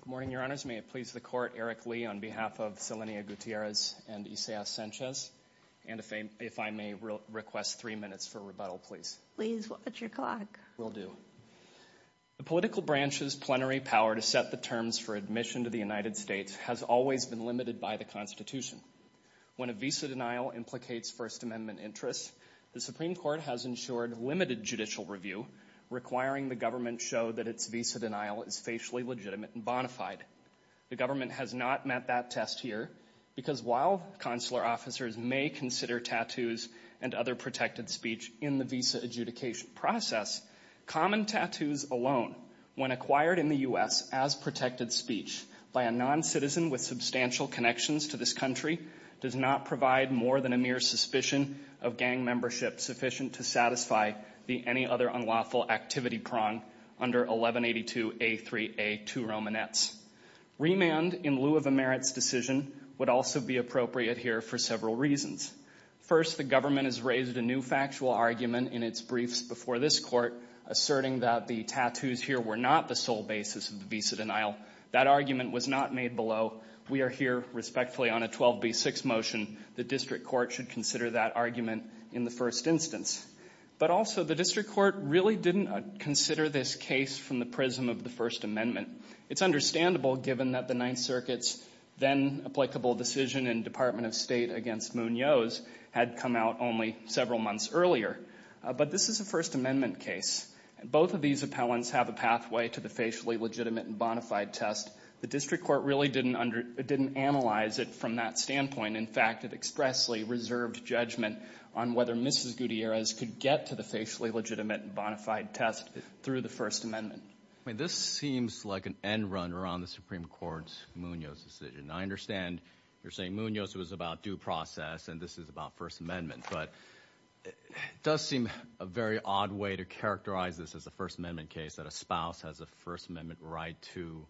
Good morning, Your Honors. May it please the Court, Eric Lee on behalf of Selenia Gutierrez and Isaias Sanchez, and if I may request three minutes for rebuttal, please. Please, what's your clock? Will do. The political branch's plenary power to set the terms for admission to the United States has always been limited by the Constitution. When a visa denial implicates First Amendment interests, the Supreme Court has ensured limited judicial review, requiring the government show that its visa denial is facially legitimate and bona fide. The government has not met that test here because while consular officers may consider tattoos and other protected speech in the visa adjudication process, common tattoos alone, when acquired in the U.S. as protected speech by a non-citizen with substantial connections to this country, does not provide more than a mere suspicion of gang membership sufficient to satisfy the any other unlawful activity prong under 1182A3A2 Romanets. Remand in lieu of a merits decision would also be appropriate here for several reasons. First, the government has raised a new factual argument in its briefs before this Court asserting that the tattoos here were not the sole basis of the visa denial. That argument was not made below. We are here respectfully on a 12B6 motion. The District Court should consider that argument in the first instance. But also, the District Court really didn't consider this case from the prism of the First Amendment. It's understandable given that the Ninth Circuit's then applicable decision in Department of State against Munoz had come out only several months earlier. But this is a First Amendment case. Both of these appellants have a pathway to the facially legitimate and bonafide test. The District Court really didn't analyze it from that standpoint. In fact, it expressly reserved judgment on whether Mrs. Gutierrez could get to the facially legitimate and bonafide test through the First Amendment. This seems like an end run around the Supreme Court's Munoz decision. I understand you're saying Munoz was about due process and this is about First Amendment. But it does seem a very odd way to characterize this as a First Amendment case that a spouse has a First Amendment right to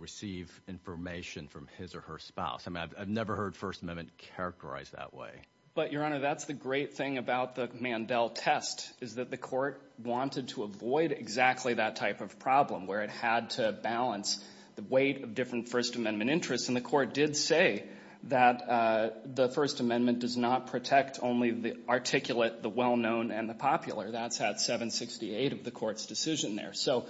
receive information from his or her spouse. I've never heard First Amendment characterized that way. But, Your Honor, that's the great thing about the Mandel test, is that the Court wanted to avoid exactly that type of problem where it had to balance the weight of different First Amendment interests. And the Court did say that the First Amendment does not protect only the articulate, the well-known, and the popular. That's at 768 of the Court's decision there. So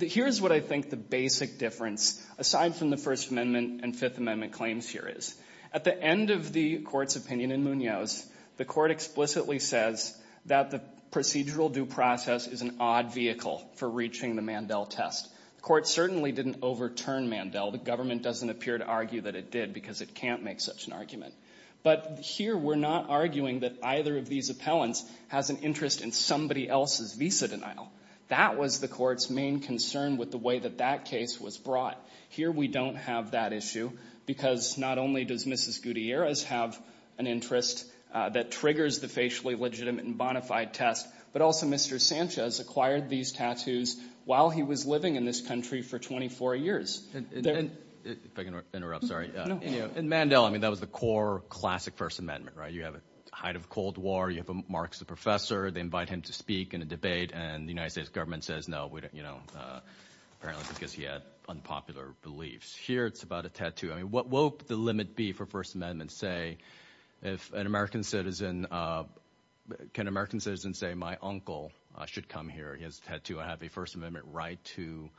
here's what I think the basic difference, aside from the First Amendment and Fifth Amendment claims here is. At the end of the Court's opinion in Munoz, the Court explicitly says that the procedural due process is an odd vehicle for reaching the Mandel test. The Court certainly didn't overturn Mandel. The government doesn't appear to argue that it did because it can't make such an argument. But here we're not arguing that either of these appellants has an interest in somebody else's visa denial. That was the Court's main concern with the way that that case was brought. Here we don't have that issue because not only does Mrs. Gutierrez have an interest that triggers the facially legitimate and bona fide test, but also Mr. Sanchez acquired these tattoos while he was living in this country for 24 years. If I can interrupt, sorry. In Mandel, I mean, that was the core classic First Amendment, right? You have a height of Cold War, you have a Marxist professor, they invite him to speak in a debate, and the United States government says, no, we don't, you know, apparently because he had unpopular beliefs. Here it's about a tattoo. I mean, what will the limit be for First Amendment say if an American citizen, can an American citizen say my uncle should come here, he has a tattoo, I have a First Amendment right to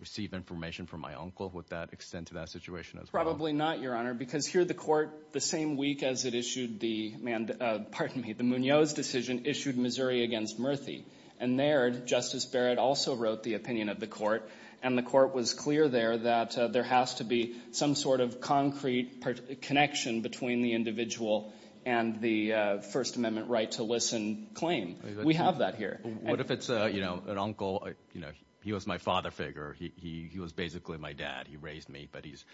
receive information from my uncle? Would that extend to that situation as well? Probably not, Your Honor, because here the Court, the same week as it issued the Munoz decision, issued Missouri against Murthy. And there, Justice Barrett also wrote the opinion of the Court, and the Court was clear there that there has to be some sort of concrete connection between the individual and the First Amendment right to listen claim. We have that here. What if it's, you know, an uncle, you know, he was my father figure, he was basically my dad, he raised me, but his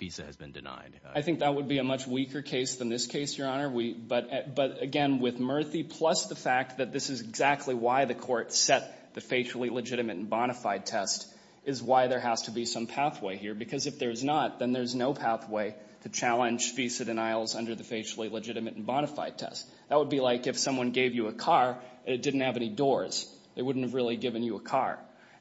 visa has been denied? I think that would be a much weaker case than this case, Your Honor. But again, with Murthy, plus the fact that this is exactly why the Court set the facially legitimate and bona fide test, is why there has to be some pathway here, because if there's not, then there's no pathway to challenge visa denials under the facially legitimate and bona fide test. That would be like if someone gave you a car and it didn't have any doors. They wouldn't have really given you a car.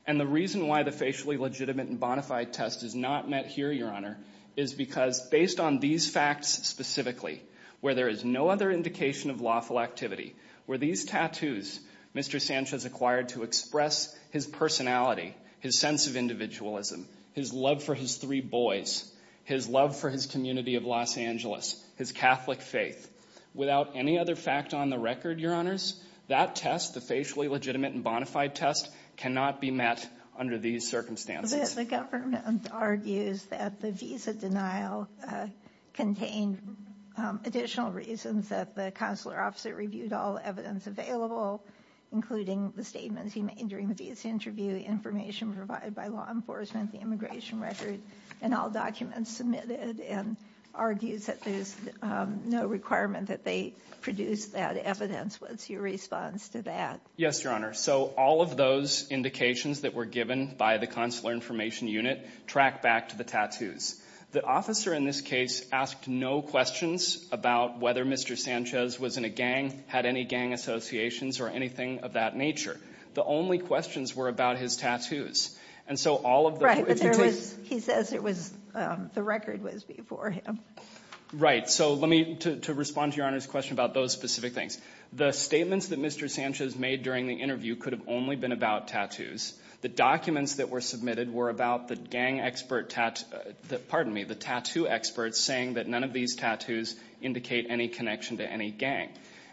And the reason why the facially legitimate and bona fide test is not met here, Your Honor, is because based on these facts specifically, where there is no other indication of lawful activity, where these tattoos Mr. Sanchez acquired to express his personality, his sense of individualism, his love for his three boys, his love for his community of Los Angeles, his Catholic faith, without any other fact on the record, Your Honors, that test, the facially legitimate and bona fide test, cannot be met under these circumstances. The government argues that the visa denial contained additional reasons that the consular officer reviewed all evidence available, including the statements he made during the visa interview, the information provided by law enforcement, the immigration record, and all documents submitted, and argues that there's no requirement that they produce that evidence. What's your response to that? Yes, Your Honor. So all of those indications that were given by the Consular Information Unit track back to the tattoos. The officer in this case asked no questions about whether Mr. Sanchez was in a gang, had any gang associations, or anything of that nature. The only questions were about his tattoos. Right, but he says the record was before him. Right. So to respond to Your Honor's question about those specific things, the statements that Mr. Sanchez made during the interview could have only been about tattoos. The documents that were submitted were about the gang expert, pardon me, the tattoo experts saying that none of these tattoos indicate any connection to any gang.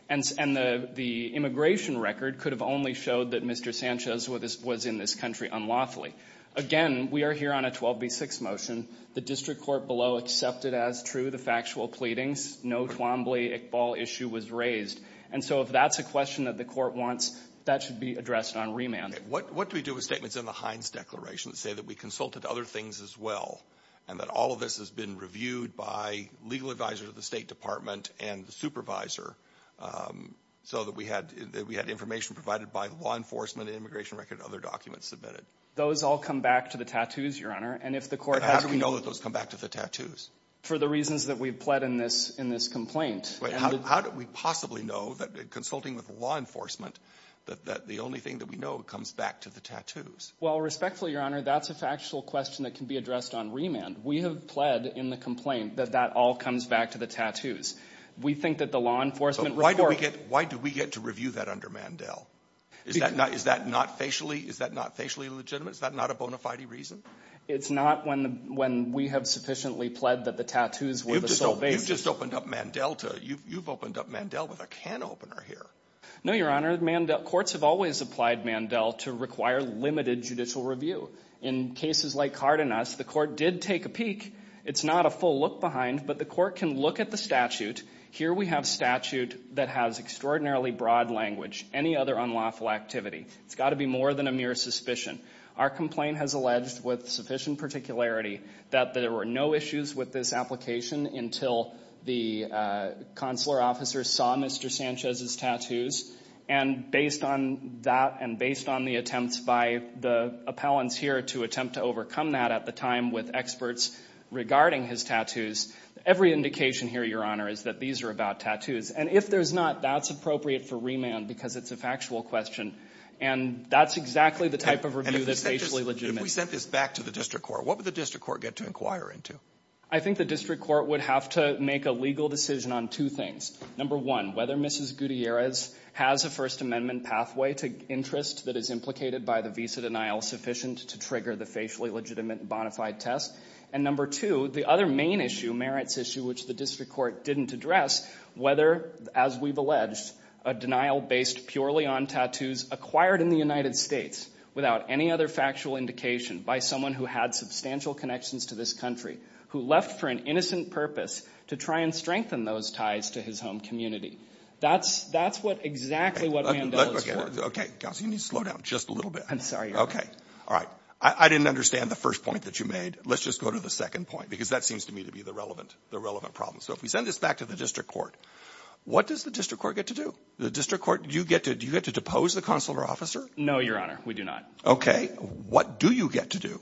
And the immigration record could have only showed that Mr. Sanchez was in this country unlawfully. Again, we are here on a 12B6 motion. The district court below accepted as true the factual pleadings. No Twombly-Iqbal issue was raised. And so if that's a question that the court wants, that should be addressed on remand. What do we do with statements in the Hines Declaration that say that we consulted other things as well, and that all of this has been reviewed by legal advisors of the State Department and the supervisor, so that we had information provided by law enforcement, immigration record, and other documents submitted? Those all come back to the tattoos, Your Honor. And if the court has to be But how do we know that those come back to the tattoos? For the reasons that we've pled in this complaint. But how do we possibly know that consulting with law enforcement, that the only thing that we know comes back to the tattoos? Well, respectfully, Your Honor, that's a factual question that can be addressed on remand. We have pled in the complaint that that all comes back to the tattoos. We think that the law enforcement report So why do we get to review that under Mandel? Is that not facially legitimate? Is that not a bona fide reason? It's not when we have sufficiently pled that the tattoos were the sole basis You've just opened up Mandel to, you've opened up Mandel with a can opener here. No, Your Honor. Courts have always applied Mandel to require limited judicial review. In cases like Cardenas, the court did take a peek. It's not a full look behind, but the court can look at the statute. Here we have statute that has extraordinarily broad language. Any other unlawful activity. It's got to be more than a mere suspicion. Our complaint has alleged with sufficient particularity that there were no issues with this application until the consular officer saw Mr. Sanchez's tattoos. And based on that and based on the attempts by the appellants here to attempt to overcome that at the time with experts regarding his tattoos, every indication here, Your Honor, is that these are about tattoos. And if there's not, that's appropriate for remand because it's a factual question. And that's exactly the type of review that's facially legitimate. If we sent this back to the district court, what would the district court get to inquire into? I think the district court would have to make a legal decision on two things. Number one, whether Mrs. Gutierrez has a First Amendment pathway to interest that is implicated by the visa denial sufficient to trigger the facially legitimate and bonafide test. And number two, the other main issue, merits issue, which the district court didn't address, whether, as we've alleged, a denial based purely on tattoos acquired in the United States without any other factual indication by someone who had substantial connections to this country, who left for an innocent purpose to try and strengthen those ties to his home community. That's what exactly what Mandela is for. Counsel, you need to slow down just a little bit. I'm sorry, Your Honor. Okay. All right. I didn't understand the first point that you made. Let's just go to the second point because that seems to me to be the relevant problem. So if we send this back to the district court, what does the district court get to do? The district court, do you get to depose the consular officer? No, Your Honor. We do not. Okay. What do you get to do?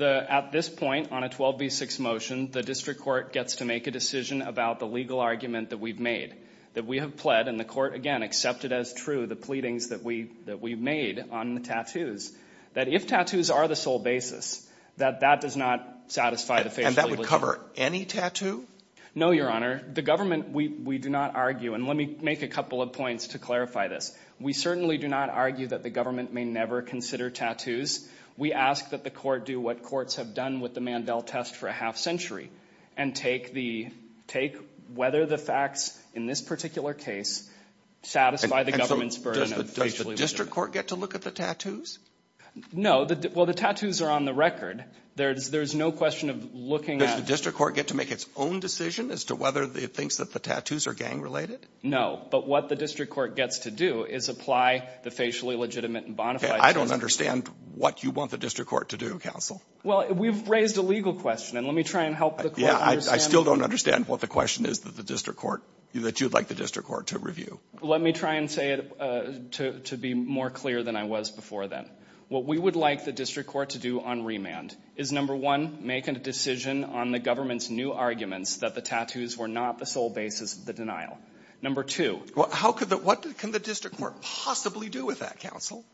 At this point, on a 12B6 motion, the district court gets to make a decision about the legal argument that we've made, that we have pled, and the court, again, accepted as true the pleadings that we've made on the tattoos, that if tattoos are the sole basis, that that does not satisfy the facially legitimate. And that would cover any tattoo? No, Your Honor. The government, we do not argue, and let me make a couple of points to clarify this. We certainly do not argue that the government may never consider tattoos. We ask that the court do what courts have done with the Mandel test for a half century and take whether the facts in this particular case satisfy the government's burden of facially Does the district court get to look at the tattoos? No. Well, the tattoos are on the record. There's no question of looking at- Does the district court get to make its own decision as to whether it thinks that the tattoos are gang-related? No. But what the district court gets to do is apply the facially legitimate and bonafide I don't understand what you want the district court to do, counsel. Well, we've raised a legal question, and let me try and help the court understand- Yeah, I still don't understand what the question is that the district court, that you'd like the district court to review. Let me try and say it to be more clear than I was before then. What we would like the district court to do on remand is, number one, make a decision on the government's new arguments that the tattoos were not the sole basis of the denial. Number two- How could the, what can the district court possibly do with that, counsel?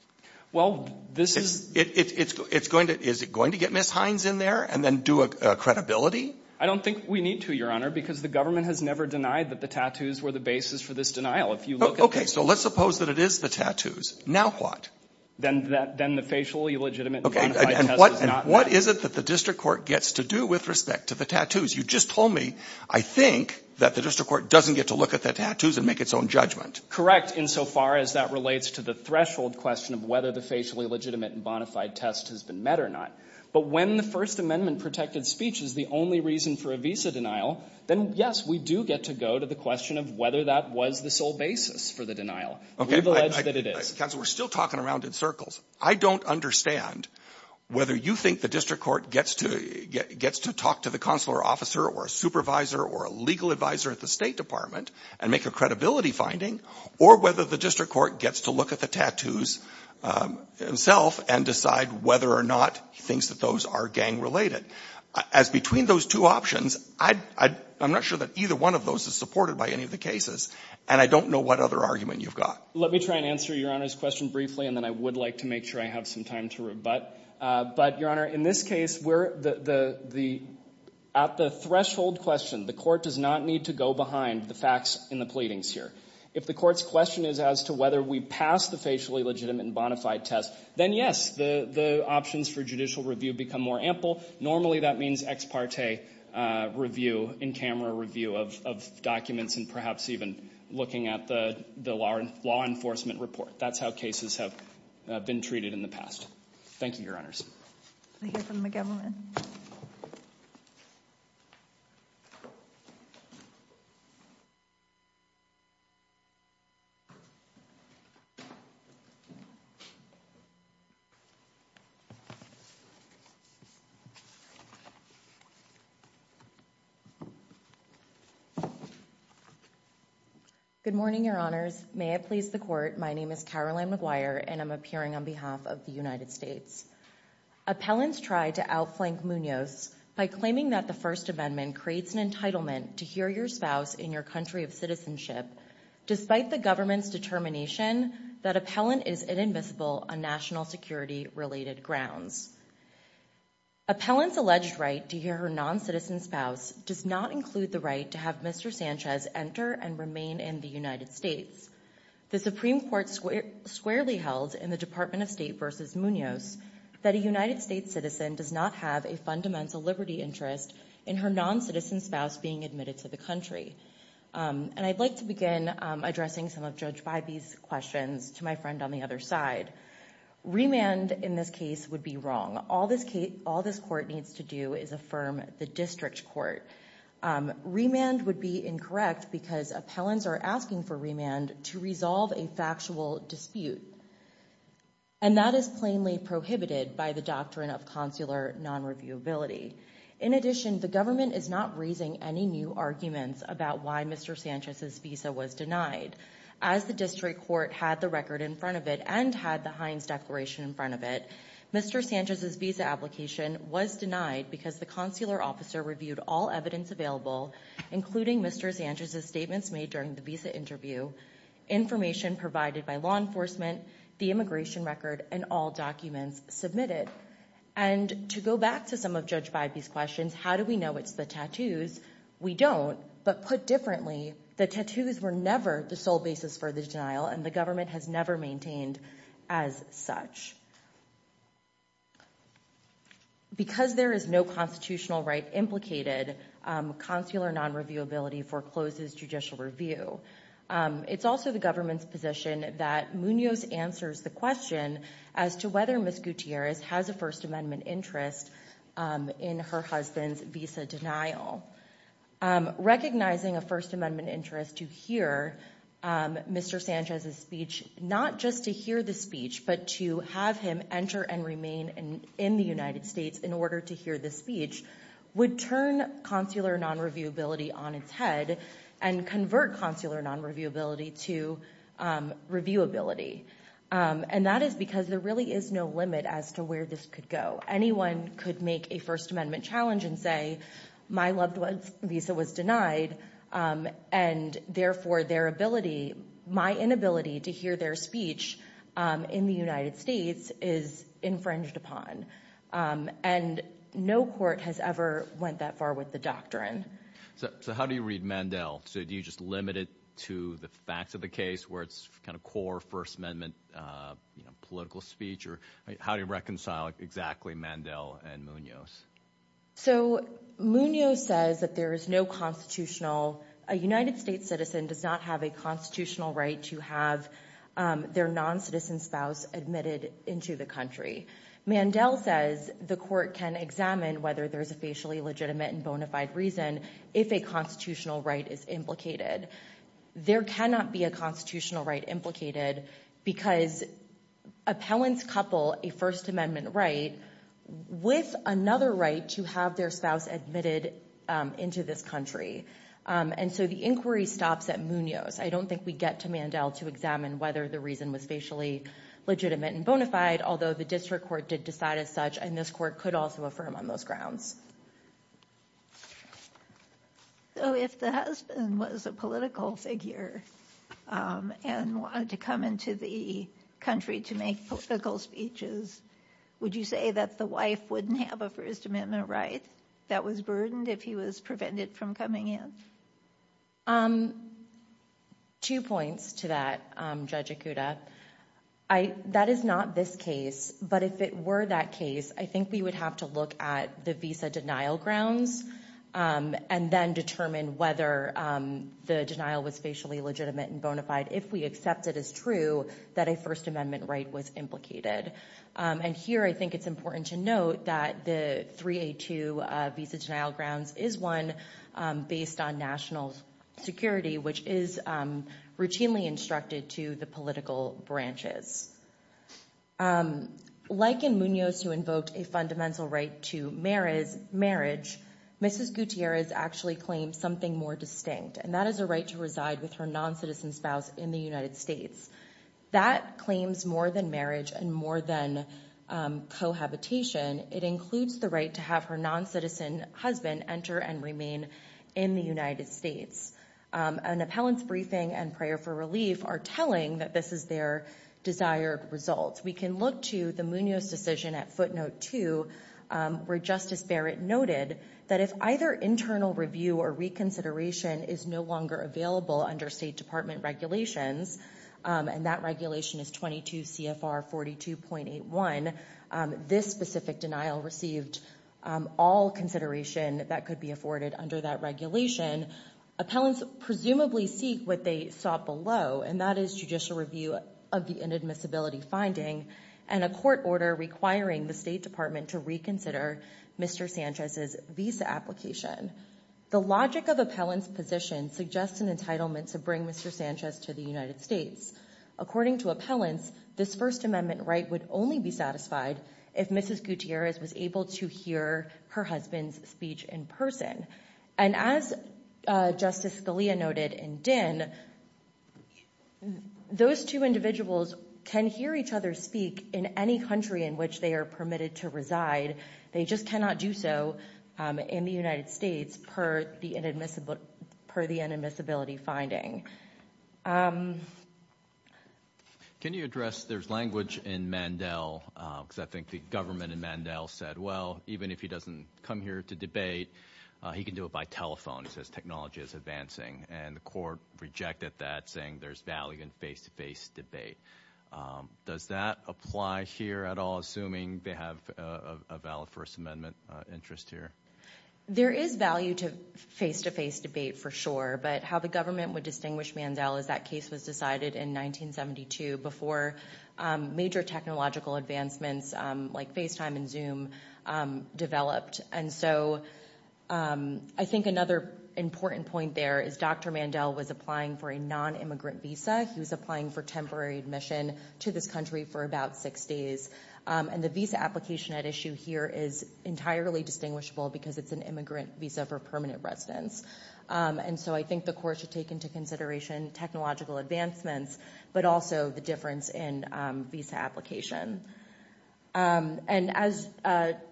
Well, this is- It's going to, is it going to get Ms. Hines in there and then do a credibility? I don't think we need to, Your Honor, because the government has never denied that the tattoos were the basis for this denial. If you look at- Okay. So let's suppose that it is the tattoos. Now what? Then the facially legitimate and bonafide test is not- And what is it that the district court gets to do with respect to the tattoos? You just told me, I think, that the district court doesn't get to look at the tattoos and make its own judgment. Correct, insofar as that relates to the threshold question of whether the facially legitimate and bonafide test has been met or not. But when the First Amendment-protected speech is the only reason for a visa denial, then, yes, we do get to go to the question of whether that was the sole basis for the denial. We've alleged that it is. Counsel, we're still talking around in circles. I don't understand whether you think the district court gets to, gets to talk to the consular officer or a supervisor or a legal advisor at the State Department and make a credibility finding, or whether the district court gets to look at the tattoos himself and decide whether or not he thinks that those are gang-related. As between those two options, I, I, I'm not sure that either one of those is supported by any of the cases, and I don't know what other argument you've got. Let me try and answer Your Honor's question briefly, and then I would like to make sure I have some time to rebut, but Your Honor, in this case, where the, the, the, at the threshold question, the court does not need to go behind the facts in the pleadings here. If the court's question is as to whether we pass the facially legitimate and bona fide test, then yes, the, the options for judicial review become more ample. Normally, that means ex parte review, in-camera review of, of documents and perhaps even looking at the, the law, law enforcement report. That's how cases have been treated in the past. Thank you, Your Honors. I hear from McGovern. Good morning, Your Honors. May it please the court, my name is Caroline McGuire, and I'm appearing on behalf of the United States. Appellants try to outflank Munoz by claiming that the First Amendment creates an entitlement to hear your spouse in your country of citizenship, despite the government's determination that appellant is inadmissible on national security related grounds. Appellant's alleged right to hear her non-citizen spouse does not include the right to have Mr. Sanchez enter and remain in the United States. The Supreme Court squarely held in the Department of State versus Munoz, that a United States citizen does not have a fundamental liberty interest in her non-citizen spouse being admitted to the country. And I'd like to begin addressing some of Judge Bybee's questions to my friend on the other side. Remand in this case would be wrong. All this case, all this court needs to do is affirm the district court. Remand would be incorrect because appellants are asking for remand to resolve a factual dispute. And that is plainly prohibited by the doctrine of consular non-reviewability. In addition, the government is not raising any new arguments about why Mr. Sanchez's visa was denied. As the district court had the record in front of it and had the Hines Declaration in front of it, Mr. Sanchez's visa application was denied because the consular officer reviewed all evidence available, including Mr. Sanchez's statements made during the visa interview, information provided by law enforcement, the immigration record, and all documents submitted. And to go back to some of Judge Bybee's questions, how do we know it's the tattoos? We don't, but put differently, the tattoos were never the sole basis for the denial and the government has never maintained as such. Because there is no constitutional right implicated, consular non-reviewability forecloses judicial review. It's also the government's position that Munoz answers the question as to whether Ms. Gutierrez has a First Amendment interest in her husband's visa denial. Recognizing a First Amendment interest to hear Mr. Sanchez's speech, not just to hear the speech, but to have him enter and remain in the United States in order to hear the speech, would turn consular non-reviewability on its head and convert consular non-reviewability to reviewability. And that is because there really is no limit as to where this could go. Anyone could make a First Amendment challenge and say, my loved one's visa was denied, and therefore their ability, my inability to hear their speech in the United States is infringed upon, and no court has ever went that far with the doctrine. So how do you read Mandel? So do you just limit it to the facts of the case where it's kind of core First Amendment political speech, or how do you reconcile exactly Mandel and Munoz? So Munoz says that there is no constitutional, a United States citizen does not have a constitutional right to have their non-citizen spouse admitted into the country. Mandel says the court can examine whether there's a facially legitimate and bona fide reason if a constitutional right is implicated. There cannot be a constitutional right implicated because appellants couple a First Amendment right with another right to have their spouse admitted into this country, and so the inquiry stops at Munoz. I don't think we get to Mandel to examine whether the reason was facially legitimate and bona fide, although the district court did decide as such, and this court could also affirm on those grounds. So if the husband was a political figure and wanted to come into the country to make political speeches, would you say that the wife wouldn't have a First Amendment right that was burdened if he was prevented from coming in? Two points to that, Judge Okuda. That is not this case, but if it were that case, I think we would have to look at the visa denial grounds and then determine whether the denial was facially legitimate and bona fide. If we accept it as true, that a First Amendment right was implicated. And here I think it's important to note that the 3A2 visa denial grounds is one based on national security, which is routinely instructed to the political branches. Like in Munoz, who invoked a fundamental right to marriage, Mrs. Gutierrez actually claims something more distinct, and that is a right to reside with her non-citizen spouse in the United States. That claims more than marriage and more than cohabitation. It includes the right to have her non-citizen husband enter and remain in the United States. An appellant's briefing and prayer for relief are telling that this is their desired results. We can look to the Munoz decision at footnote two, where Justice Barrett noted that if either internal review or reconsideration is no longer available under state department regulations, and that regulation is 22 CFR 42.81. This specific denial received all consideration that could be afforded under that regulation. Appellants presumably seek what they sought below, and that is judicial review of the inadmissibility finding. And a court order requiring the State Department to reconsider Mr. Sanchez's visa application. The logic of appellant's position suggests an entitlement to bring Mr. Sanchez to the United States. According to appellants, this First Amendment right would only be satisfied if Mrs. Gutierrez was able to hear her husband's speech in person. And as Justice Scalia noted in Dinn, those two individuals can hear each other speak in any country in which they are permitted to reside, they just cannot do so in the United States per the inadmissibility finding. Can you address, there's language in Mandel, because I think the government in Mandel said, well, even if he doesn't come here to debate, he can do it by telephone. It says technology is advancing, and the court rejected that, saying there's value in face-to-face debate. Does that apply here at all, assuming they have a valid First Amendment interest here? There is value to face-to-face debate for sure, but how the government would distinguish Mandel is that case was decided in 1972 before major technological advancements like FaceTime and Zoom developed. And so I think another important point there is Dr. Mandel was applying for a non-immigrant visa. He was applying for temporary admission to this country for about six days. And the visa application at issue here is entirely distinguishable because it's an immigrant visa for permanent residence. And so I think the court should take into consideration technological advancements, but also the difference in visa application. And as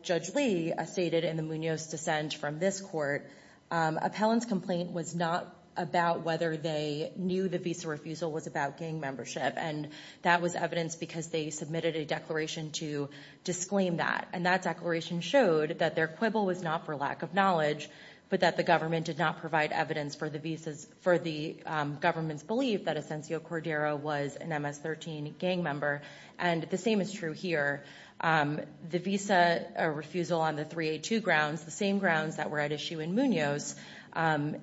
Judge Lee stated in the Munoz dissent from this court, appellant's complaint was not about whether they knew the visa refusal was about gang membership. And that was evidence because they submitted a declaration to disclaim that. And that declaration showed that their quibble was not for lack of knowledge, but that the government did not provide evidence for the government's belief that Asencio Cordero was an MS-13 gang member, and the same is true here. The visa refusal on the 382 grounds, the same grounds that were at issue in Munoz,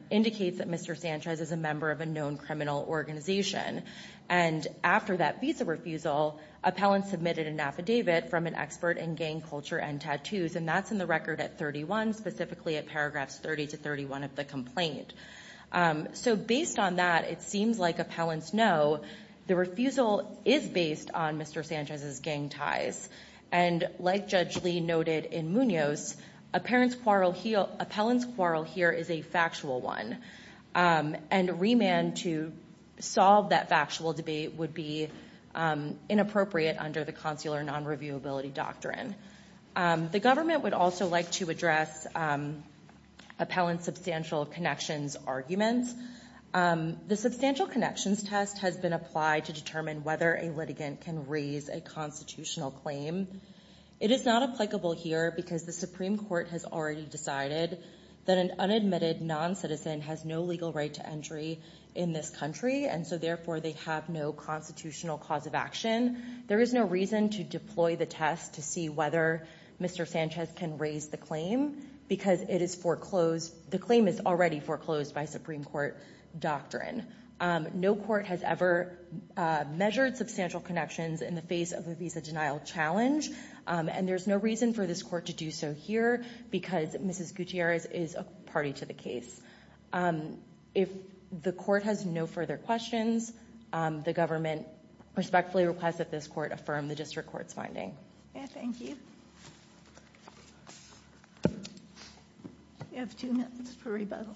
indicates that Mr. Sanchez is a member of a known criminal organization. And after that visa refusal, appellant submitted an affidavit from an expert in gang culture and tattoos. And that's in the record at 31, specifically at paragraphs 30 to 31 of the complaint. So based on that, it seems like appellants know the refusal is based on Mr. Sanchez's gang ties. And like Judge Lee noted in Munoz, appellant's quarrel here is a factual one. And remand to solve that factual debate would be inappropriate under the consular non-reviewability doctrine. The government would also like to address appellant's substantial connections arguments. The substantial connections test has been applied to determine whether a litigant can raise a constitutional claim. It is not applicable here because the Supreme Court has already decided that an unadmitted non-citizen has no legal right to entry in this country, and so therefore they have no constitutional cause of action. There is no reason to deploy the test to see whether Mr. Sanchez can raise the claim, because it is foreclosed, the claim is already foreclosed by Supreme Court doctrine. No court has ever measured substantial connections in the face of a visa denial challenge. And there's no reason for this court to do so here, because Mrs. Gutierrez is a party to the case. If the court has no further questions, the government respectfully requests that this court affirm the district court's finding. Yeah, thank you. You have two minutes for rebuttal.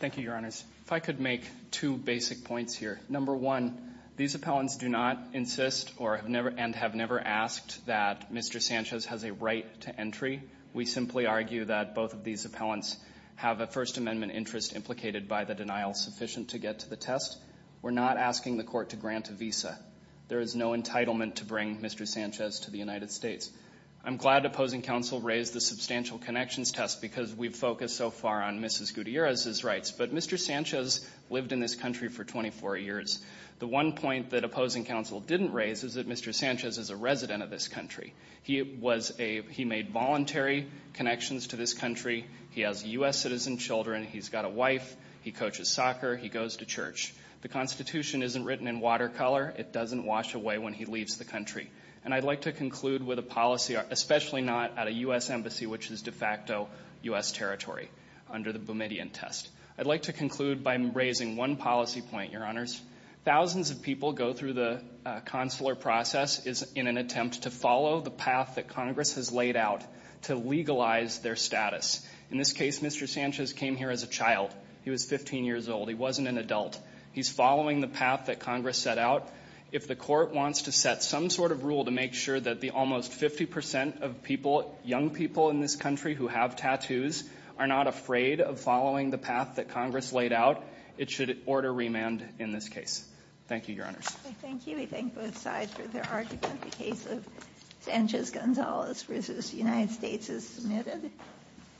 Thank you, your honors. If I could make two basic points here. Number one, these appellants do not insist and have never asked that Mr. Sanchez has a right to entry. We simply argue that both of these appellants have a First Amendment interest implicated by the denial sufficient to get to the test. We're not asking the court to grant a visa. There is no entitlement to bring Mr. Sanchez to the United States. I'm glad opposing counsel raised the substantial connections test because we've focused so far on Mrs. Gutierrez's rights. But Mr. Sanchez lived in this country for 24 years. The one point that opposing counsel didn't raise is that Mr. Sanchez is a resident of this country. He made voluntary connections to this country. He has US citizen children. He's got a wife. He coaches soccer. He goes to church. The Constitution isn't written in watercolor. It doesn't wash away when he leaves the country. And I'd like to conclude with a policy, especially not at a US embassy, which is de facto US territory under the Bermudian test. I'd like to conclude by raising one policy point, Your Honors. Thousands of people go through the consular process in an attempt to follow the path that Congress has laid out to legalize their status. In this case, Mr. Sanchez came here as a child. He was 15 years old. He wasn't an adult. He's following the path that Congress set out. If the court wants to set some sort of rule to make sure that the almost 50% of people, young people in this country who have tattoos are not afraid of following the path that Congress laid out, it should order remand in this case. Thank you, Your Honors. Thank you. We thank both sides for their argument. The case of Sanchez-Gonzalez v. United States is submitted.